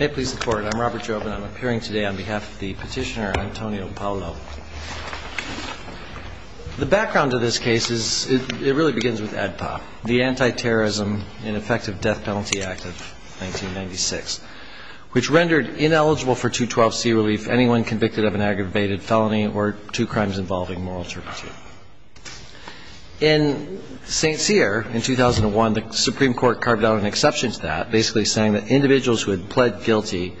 I'm Robert Jobin. I'm appearing today on behalf of the petitioner Antonio Paolo. The background to this case is, it really begins with ADPA, the Anti-Terrorism and Effective Death Penalty Act of 1996, which rendered ineligible for 212c relief anyone convicted of an aggravated felony or two crimes involving moral turpitude. In St. Cyr, in 2001, the Supreme Court carved out an exception to that, basically saying that individuals who had pled guilty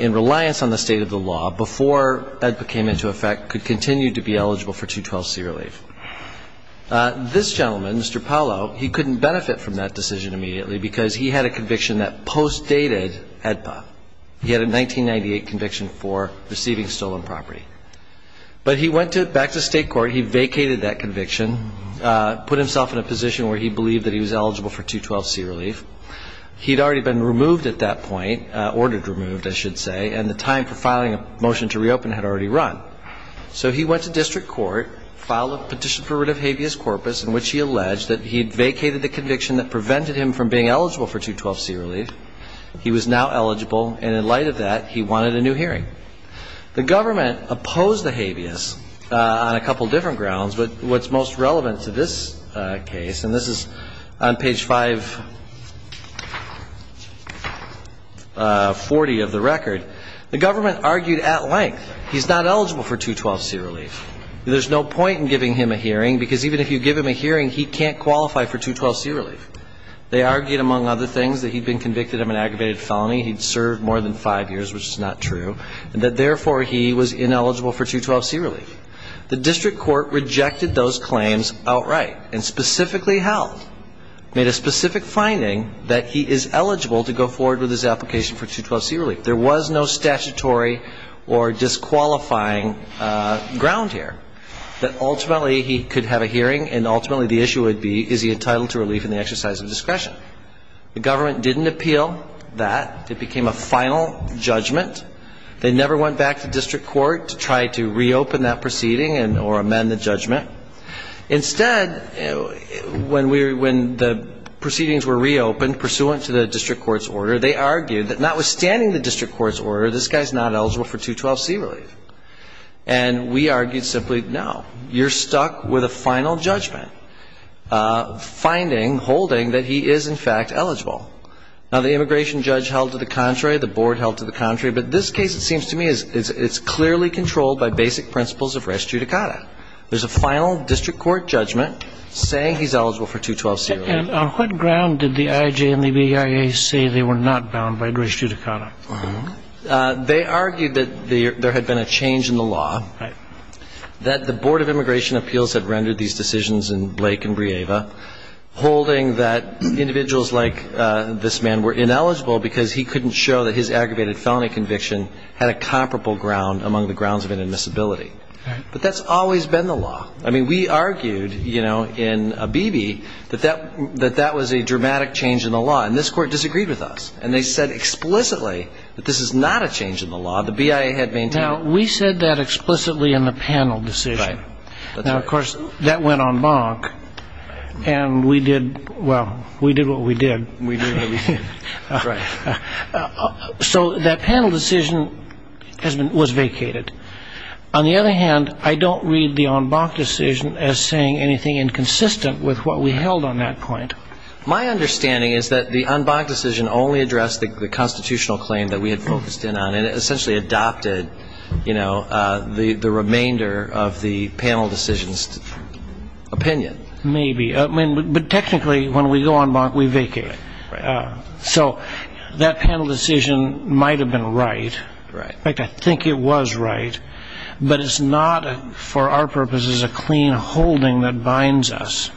in reliance on the state of the law before ADPA came into effect could continue to be eligible for 212c relief. This gentleman, Mr. Paolo, he couldn't benefit from that decision immediately because he had a conviction that postdated ADPA. He had a 1998 conviction for receiving stolen property. But he went back to state court. He vacated that conviction, put himself in a position where he believed that he was eligible for 212c relief. He had already been removed at that point, ordered removed, I should say, and the time for filing a motion to reopen had already run. So he went to district court, filed a petition for rid of habeas corpus in which he alleged that he had vacated the conviction that prevented him from being eligible for 212c relief. He was now eligible, and in light of that, he wanted a new hearing. The government opposed the habeas on a couple different grounds, but what's most relevant to this case, and this is on page 540 of the record, the government argued at length he's not eligible for 212c relief. There's no point in giving him a hearing because even if you give him a hearing, he can't qualify for 212c relief. They argued, among other things, that he'd been convicted of an aggravated felony, he'd served more than five years, which is not true, and that therefore he was ineligible for 212c relief. The district court rejected those claims outright and specifically held, made a specific finding that he is eligible to go forward with his application for 212c relief. There was no statutory or disqualifying ground here that ultimately he could have a hearing, and ultimately the issue would be, is he entitled to relief in the exercise of discretion? The government didn't appeal that. It became a final judgment. They never went back to district court to try to reopen that proceeding or amend the judgment. Instead, when we were – when the proceedings were reopened pursuant to the district court's order, they argued that notwithstanding the district court's order, this guy's not eligible for 212c relief. And we argued simply, no, you're stuck with a final judgment finding, holding that he is, in fact, eligible. Now, the immigration judge held to the contrary, the board held to the contrary, but this case, it seems to me, it's clearly controlled by basic principles of res judicata. There's a final district court judgment saying he's eligible for 212c relief. And on what ground did the IJ and the BIA say they were not bound by res judicata? They argued that there had been a change in the law, that the Board of Immigration Appeals had rendered these decisions in Blake and Brieva, holding that individuals like this man were ineligible because he couldn't show that his aggravated felony conviction had a comparable ground among the grounds of inadmissibility. But that's always been the law. I mean, we argued, you know, in Abebe that that was a dramatic change in the law. And this court disagreed with us. And they said explicitly that this is not a change in the law. The BIA had maintained it. Now, we said that explicitly in the panel decision. Right. Now, of course, that went en banc, and we did, well, we did what we did. We did what we did. Right. So that panel decision was vacated. On the other hand, I don't read the en banc decision as saying anything inconsistent with what we held on that point. My understanding is that the en banc decision only addressed the constitutional claim that we had focused in on, and it essentially adopted, you know, the remainder of the panel decision's opinion. Maybe. But technically, when we go en banc, we vacate it. Right. So that panel decision might have been right. Right. In fact, I think it was right. But it's not, for our purposes, a clean holding that binds us.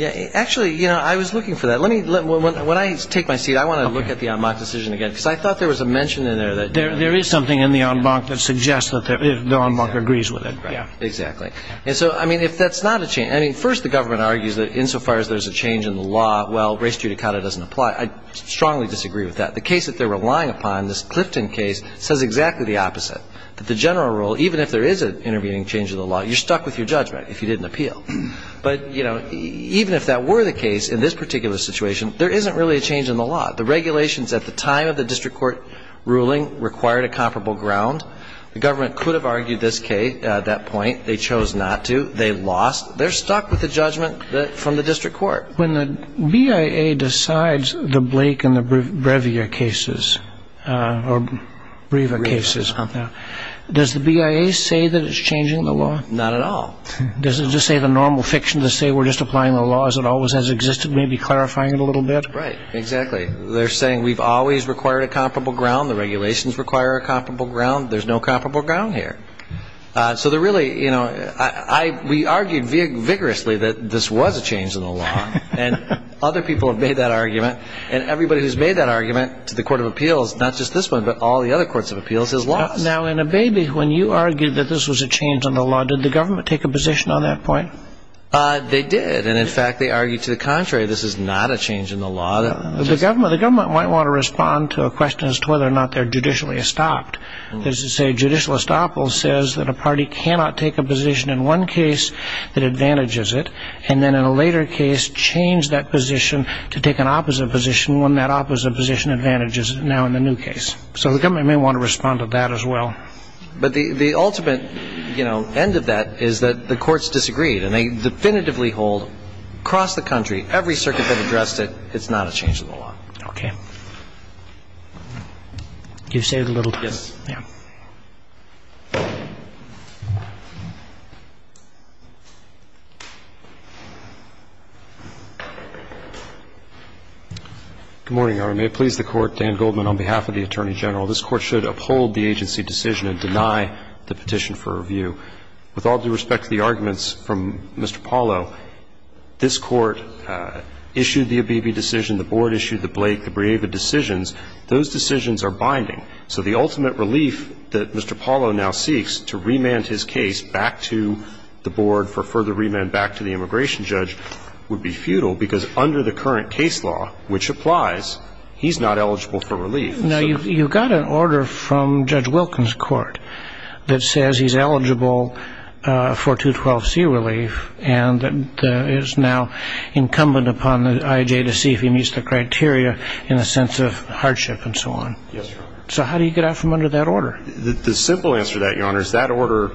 Actually, you know, I was looking for that. When I take my seat, I want to look at the en banc decision again, because I thought there was a mention in there. There is something in the en banc that suggests that the en banc agrees with it. Exactly. And so, I mean, if that's not a change, I mean, first the government argues that insofar as there's a change in the law, well, res judicata doesn't apply. I strongly disagree with that. The case that they're relying upon, this Clifton case, says exactly the opposite, that the general rule, even if there is an intervening change in the law, you're stuck with your judgment if you didn't appeal. But, you know, even if that were the case in this particular situation, there isn't really a change in the law. The regulations at the time of the district court ruling required a comparable ground. The government could have argued this case at that point. They chose not to. They lost. They're stuck with the judgment from the district court. When the BIA decides the Blake and the Brevia cases, or Breva cases, does the BIA say that it's changing the law? Not at all. Does it just say the normal fiction to say we're just applying the law as it always has existed, maybe clarifying it a little bit? Right. Exactly. They're saying we've always required a comparable ground. The regulations require a comparable ground. There's no comparable ground here. So they're really, you know, we argued vigorously that this was a change in the law. And other people have made that argument. And everybody who's made that argument to the Court of Appeals, not just this one, but all the other courts of appeals, has lost. Now, in a baby, when you argued that this was a change in the law, did the government take a position on that point? They did. And, in fact, they argued to the contrary, this is not a change in the law. The government might want to respond to a question as to whether or not they're judicially estopped. This is a judicial estoppel says that a party cannot take a position in one case that advantages it, and then in a later case change that position to take an opposite position when that opposite position advantages it now in the new case. So the government may want to respond to that as well. But the ultimate, you know, end of that is that the courts disagreed. And they definitively hold across the country, every circuit that addressed it, it's not a change in the law. Okay. You saved a little time. Yes. Yeah. Good morning, Your Honor. May it please the Court, Dan Goldman on behalf of the Attorney General. This Court should uphold the agency decision and deny the petition for review. With all due respect to the arguments from Mr. Paulo, this Court issued the ABB decision, the Board issued the Blake, the Breiva decisions. Those decisions are binding. So the ultimate relief that Mr. Paulo now seeks to remand his case back to the Board for further remand back to the immigration judge would be futile because under the current case law, which applies, he's not eligible for relief. Now, you've got an order from Judge Wilkins' court that says he's eligible for 212C relief and is now incumbent upon the IJ to see if he meets the criteria in a sense of hardship and so on. Yes, Your Honor. So how do you get out from under that order? The simple answer to that, Your Honor, is that order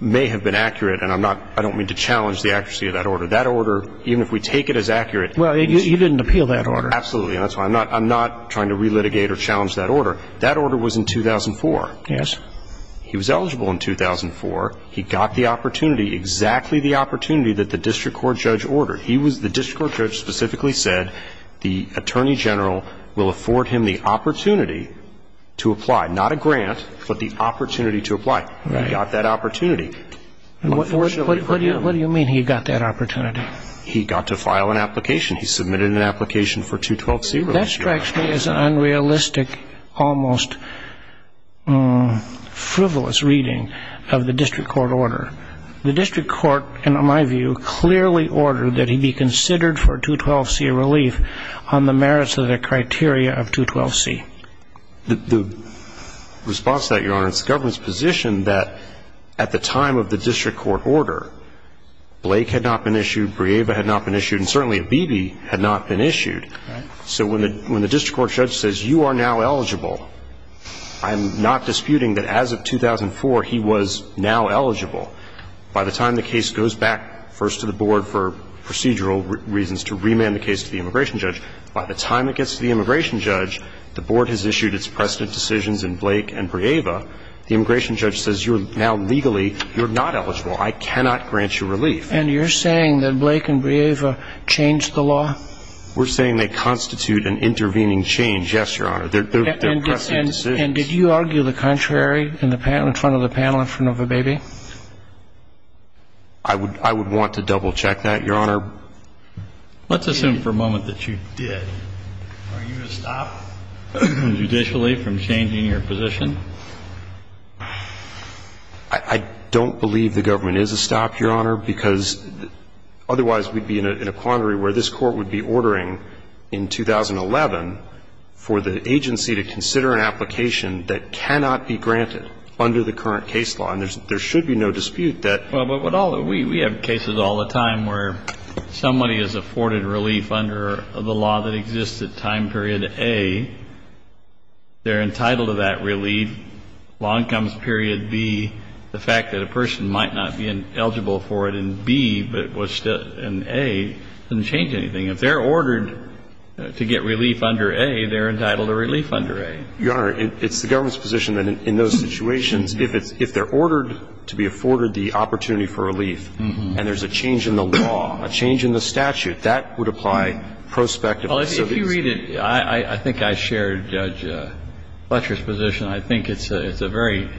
may have been accurate, and I don't mean to challenge the accuracy of that order. That order, even if we take it as accurate ñ Well, you didn't appeal that order. Absolutely. And that's why I'm not trying to relitigate or challenge that order. That order was in 2004. Yes. He was eligible in 2004. He got the opportunity. Exactly the opportunity that the district court judge ordered. The district court judge specifically said the attorney general will afford him the opportunity to apply. Not a grant, but the opportunity to apply. He got that opportunity. What do you mean he got that opportunity? He got to file an application. He submitted an application for 212C relief. That strikes me as an unrealistic, almost frivolous reading of the district court order. The district court, in my view, clearly ordered that he be considered for 212C relief on the merits of the criteria of 212C. The response to that, Your Honor, is the government's position that at the time of the district court order, Blake had not been issued, Brieva had not been issued, and certainly Bibi had not been issued. Right. So when the district court judge says you are now eligible, I'm not disputing that as of 2004 he was now eligible. By the time the case goes back first to the board for procedural reasons, to remand the case to the immigration judge, by the time it gets to the immigration judge, the board has issued its precedent decisions in Blake and Brieva, the immigration judge says you're now legally, you're not eligible. I cannot grant you relief. And you're saying that Blake and Brieva changed the law? We're saying they constitute an intervening change, yes, Your Honor. They're precedent decisions. And did you argue the contrary in front of the panel in front of Bibi? I would want to double-check that, Your Honor. Let's assume for a moment that you did. Are you a stop, judicially, from changing your position? I don't believe the government is a stop, Your Honor, because otherwise we'd be in a quandary where this Court would be ordering in 2011 for the agency to consider an application that cannot be granted under the current case law, and there should be no dispute that. But we have cases all the time where somebody is afforded relief under the law that exists at time period A. They're entitled to that relief. And if they're ordered to get relief under A, they're entitled to relief under A. And if they're ordered to get relief under B, law incomes period B, the fact that a person might not be eligible for it in B but was in A doesn't change anything. If they're ordered to get relief under A, they're entitled to relief under A. Your Honor, it's the government's position that in those situations, if it's — if they're ordered to be afforded the opportunity for relief and there's a change in the law, a change in the statute, that would apply prospectively. Well, if you read it, I think I shared Judge Fletcher's position. I think it's a very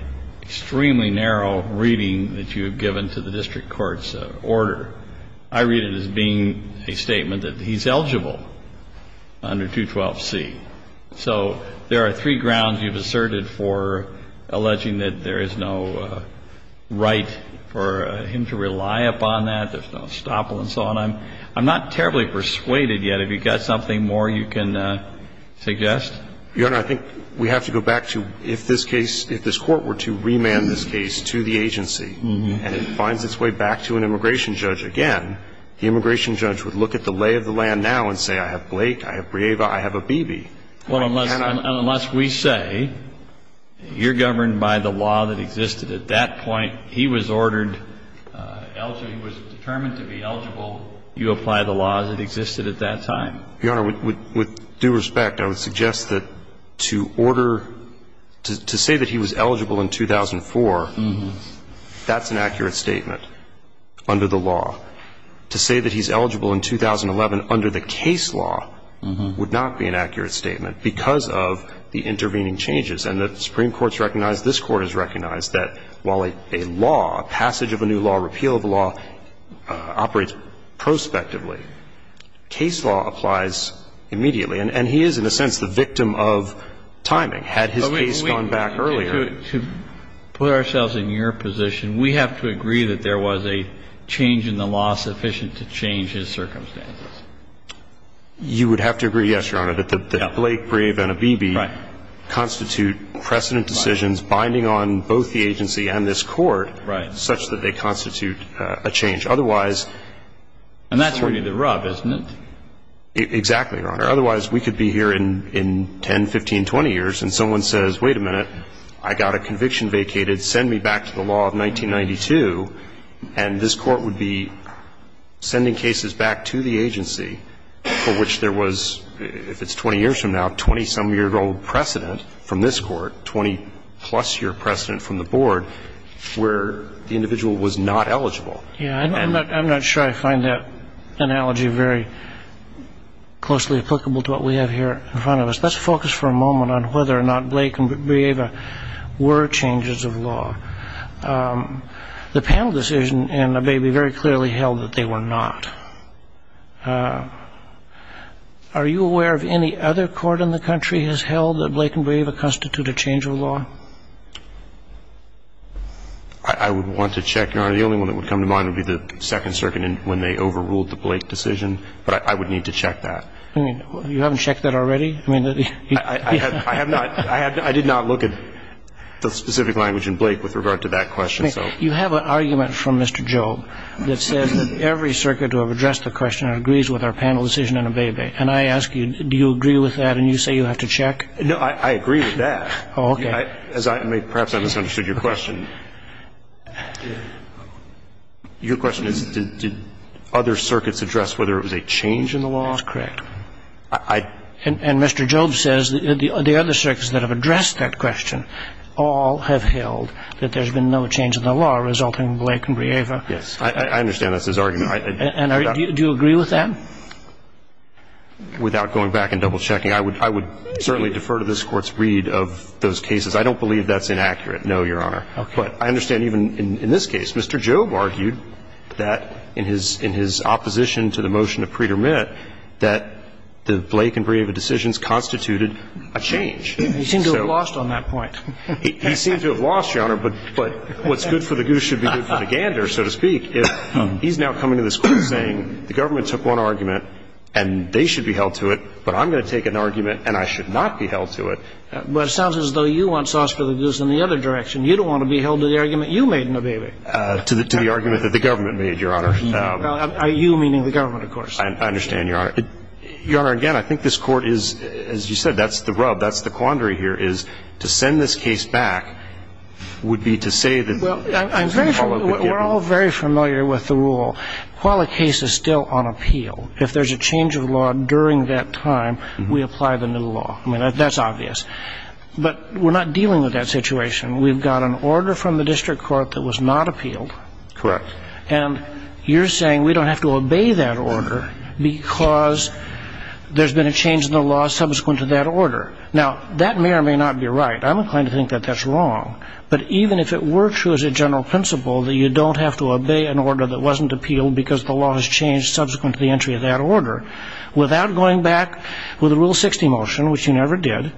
extremely narrow reading that you have given to the district court's order. I read it as being a statement that he's eligible under 212C. So there are three grounds you've asserted for alleging that there is no right for him to rely upon that, there's no estoppel and so on. I'm not terribly persuaded yet. Have you got something more you can suggest? Your Honor, I think we have to go back to if this case — if this Court were to remand this case to the agency and it finds its way back to an immigration judge again, the immigration judge would look at the lay of the land now and say, I have Blake, I have Brieva, I have Abebe. Well, unless we say you're governed by the law that existed at that point, he was ordered — he was determined to be eligible, you apply the laws that existed at that time. Your Honor, with due respect, I would suggest that to order — to say that he was eligible in 2004, that's an accurate statement under the law. To say that he's eligible in 2011 under the case law would not be an accurate statement because of the intervening changes. And the Supreme Court has recognized, this Court has recognized that while a law, passage of a new law, repeal of a law operates prospectively, case law applies immediately. And he is, in a sense, the victim of timing. Had his case gone back earlier — And that's really the rub, isn't it? Exactly, Your Honor. Otherwise, we could be here in 10, 15, 20 years, and someone says, wait a minute, I got a conviction vacated, send me back to the law of 1992, and this Court would I don't know how long I'm going to be here. But the point is that there was a 20-some-year-old precedent from this Court — 20-plus year precedent from the Board where the individual was not eligible. Yeah. I'm not sure I find that analogy very closely applicable to what we have here in front of us. Let's focus for a moment on whether or not Blake and Breva were changes of law. The panel decision in Abbey very clearly held that they were not. Are you aware of any other court in the country has held that Blake and Breva constitute a change of law? I would want to check, Your Honor. The only one that would come to mind would be the Second Circuit when they overruled the Blake decision. But I would need to check that. You haven't checked that already? I have not. I did not look at the specific language in Blake with regard to that question, so. You have an argument from Mr. Job that says that every circuit to have addressed the question agrees with our panel decision in Abbey v. And I ask you, do you agree with that? And you say you have to check? No, I agree with that. Oh, okay. Perhaps I misunderstood your question. Your question is, did other circuits address whether it was a change in the laws? Correct. And Mr. Job says that the other circuits that have addressed that question all have held that there's been no change in the law resulting in Blake and Breva. Yes. I understand that's his argument. And do you agree with that? Without going back and double-checking, I would certainly defer to this Court's read of those cases. I don't believe that's inaccurate, no, Your Honor. Okay. But I understand even in this case, Mr. Job argued that in his opposition to the motion to pre-dermit that the Blake and Breva decisions constituted a change. He seemed to have lost on that point. He seemed to have lost, Your Honor, but what's good for the goose should be good for the gander, so to speak. He's now coming to this Court saying the government took one argument and they should be held to it, but I'm going to take an argument and I should not be held to it. But it sounds as though you want sauce for the goose in the other direction. You don't want to be held to the argument you made in Abbey v. To the argument that the government made, Your Honor. Well, you meaning the government, of course. I understand, Your Honor. Your Honor, again, I think this Court is, as you said, that's the rub, that's the quandary here, is to send this case back would be to say that there was a follow-up agreement. We're all very familiar with the rule. While a case is still on appeal, if there's a change of law during that time, we apply the new law. I mean, that's obvious. But we're not dealing with that situation. We've got an order from the district court that was not appealed. Correct. And you're saying we don't have to obey that order because there's been a change in the law subsequent to that order. Now, that may or may not be right. I'm inclined to think that that's wrong. But even if it were true as a general principle that you don't have to obey an order that wasn't appealed because the law has changed subsequent to the entry of that order, without going back with a Rule 60 motion, which you never did,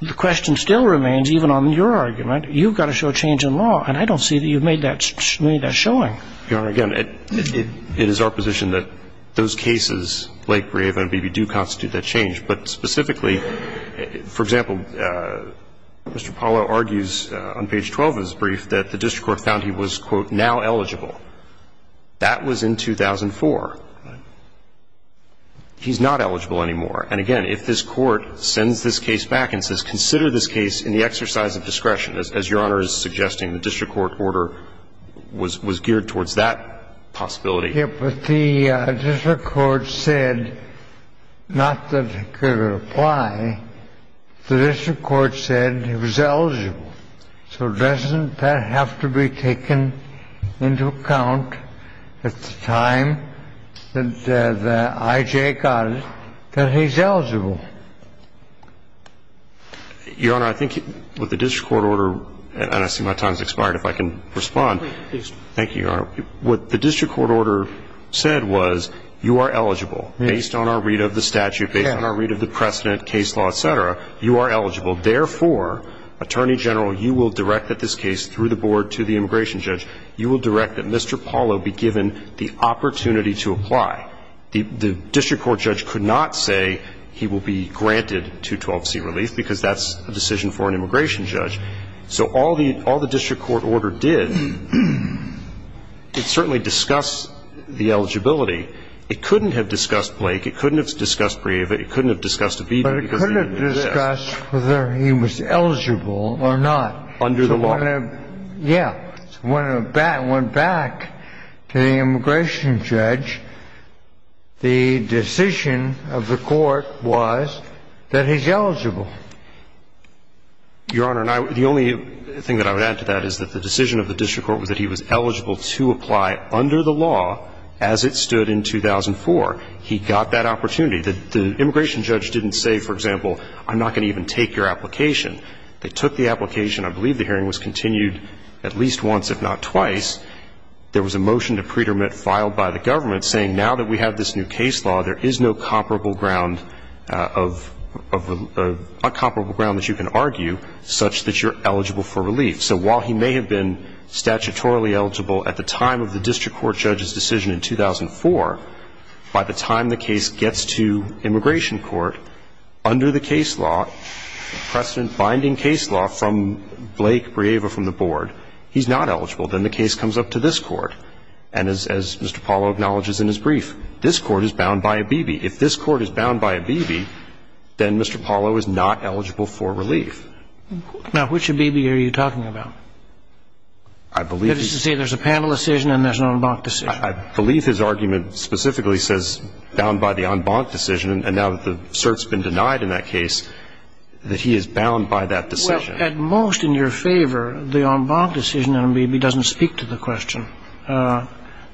the question still remains, even on your argument, you've got to show change in law. And I don't see that you've made that showing. Your Honor, again, it is our position that those cases, Lake, Breave, and Beebe, do constitute that change. But specifically, for example, Mr. Apollo argues on page 12 of his brief that the district court found he was, quote, now eligible. That was in 2004. He's not eligible anymore. And again, if this Court sends this case back and says, consider this case in the district court order, the district court order was geared towards that possibility. Yes, but the district court said not that it could apply. The district court said he was eligible. So doesn't that have to be taken into account at the time that the IJ got it that he's eligible? Your Honor, I think with the district court order, and I see my time has expired, if I can respond. Please. Thank you, Your Honor. What the district court order said was, you are eligible, based on our read of the statute, based on our read of the precedent, case law, et cetera. You are eligible. Therefore, Attorney General, you will direct that this case, through the board, to the immigration judge. You will direct that Mr. Apollo be given the opportunity to apply. The district court judge could not say he will be granted 212C relief because that's a decision for an immigration judge. So all the district court order did, it certainly discussed the eligibility. It couldn't have discussed Blake. It couldn't have discussed Breiva. It couldn't have discussed Abebe. But it couldn't have discussed whether he was eligible or not. Under the law. Yes. When it went back to the immigration judge, the decision of the court was that he's eligible. Your Honor, the only thing that I would add to that is that the decision of the district court was that he was eligible to apply under the law as it stood in 2004. He got that opportunity. The immigration judge didn't say, for example, I'm not going to even take your application. They took the application. I believe the hearing was continued at least once, if not twice. There was a motion to pre-dermit filed by the government saying now that we have this new case law, there is no comparable ground of uncomparable ground that you can argue such that you're eligible for relief. So while he may have been statutorily eligible at the time of the district court judge's decision in 2004, by the time the case gets to immigration court, under the case law, precedent-binding case law from Blake Brieva from the board, he's not eligible. Then the case comes up to this court. And as Mr. Polo acknowledges in his brief, this court is bound by a B.B. If this court is bound by a B.B., then Mr. Polo is not eligible for relief. Now, which B.B. are you talking about? I believe he's – That is to say there's a panel decision and there's an en banc decision. I believe his argument specifically says bound by the en banc decision. And now that the cert's been denied in that case, that he is bound by that decision. Well, at most in your favor, the en banc decision in a B.B. doesn't speak to the question.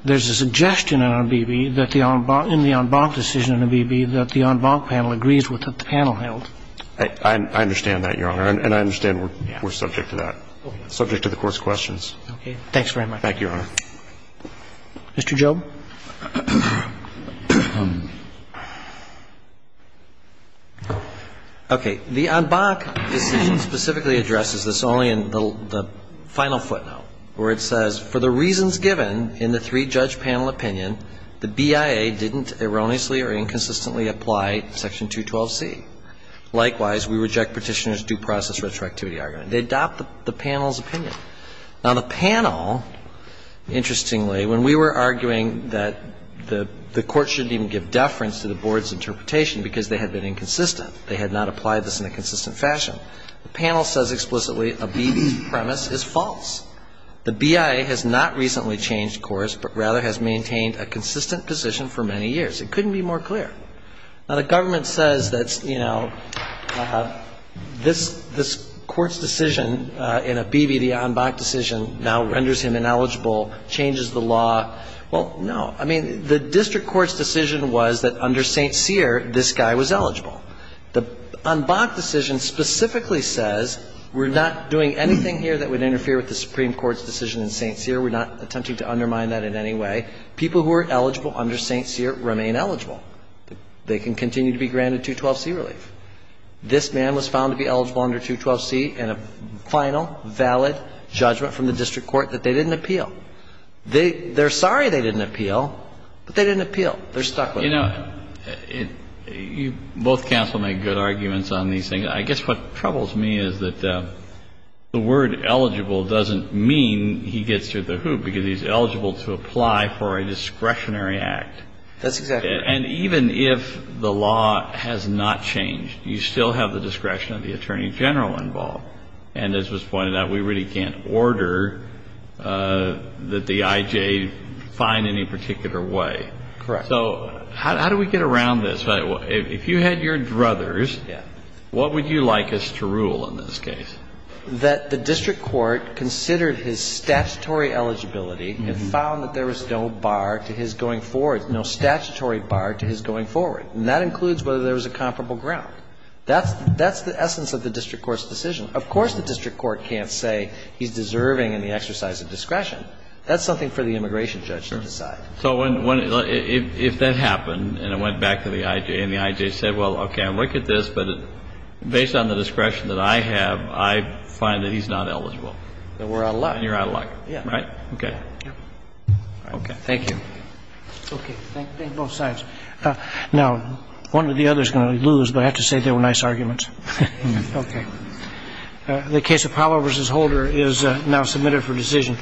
There's a suggestion in a B.B. that the en banc – in the en banc decision in a B.B. that the en banc panel agrees with what the panel held. I understand that, Your Honor. And I understand we're subject to that, subject to the Court's questions. Okay. Thanks very much. Thank you, Your Honor. Mr. Job? Okay. The en banc decision specifically addresses this only in the final footnote, where it says, For the reasons given in the three-judge panel opinion, the BIA didn't erroneously or inconsistently apply Section 212C. Likewise, we reject Petitioner's due process retroactivity argument. They adopt the panel's opinion. Now, the panel, interestingly, when we were arguing that the Court shouldn't even give deference to the Board's interpretation because they had been inconsistent, they had not applied this in a consistent fashion, the panel says explicitly a B.B.'s premise is false. The BIA has not recently changed course, but rather has maintained a consistent position for many years. It couldn't be more clear. Now, the government says that, you know, this Court's decision in a B.B., the en banc decision, now renders him ineligible, changes the law. Well, no. I mean, the district court's decision was that under St. Cyr, this guy was eligible. The en banc decision specifically says we're not doing anything here that would interfere with the Supreme Court's decision in St. Cyr. We're not attempting to undermine that in any way. People who are eligible under St. Cyr remain eligible. They can continue to be granted 212C relief. This man was found to be eligible under 212C and a final valid judgment from the district court that they didn't appeal. They're sorry they didn't appeal, but they didn't appeal. They're stuck with it. You know, you both counsel make good arguments on these things. I guess what troubles me is that the word eligible doesn't mean he gets through the hoop because he's eligible to apply for a discretionary act. That's exactly right. And even if the law has not changed, you still have the discretion of the attorney general involved. And as was pointed out, we really can't order that the I.J. find any particular way. Correct. So how do we get around this? If you had your druthers, what would you like us to rule in this case? That the district court considered his statutory eligibility and found that there was no going forward, no statutory bar to his going forward. And that includes whether there was a comparable ground. That's the essence of the district court's decision. Of course the district court can't say he's deserving in the exercise of discretion. That's something for the immigration judge to decide. Sure. So if that happened and it went back to the I.J. and the I.J. said, well, okay, I look at this, but based on the discretion that I have, I find that he's not eligible. Then we're out of luck. And you're out of luck. Yeah. Right? Okay. Okay. Thank you. Okay. Thank both sides. Now, one or the other is going to lose, but I have to say they were nice arguments. Okay. The case of Powell v. Holder is now submitted for decision.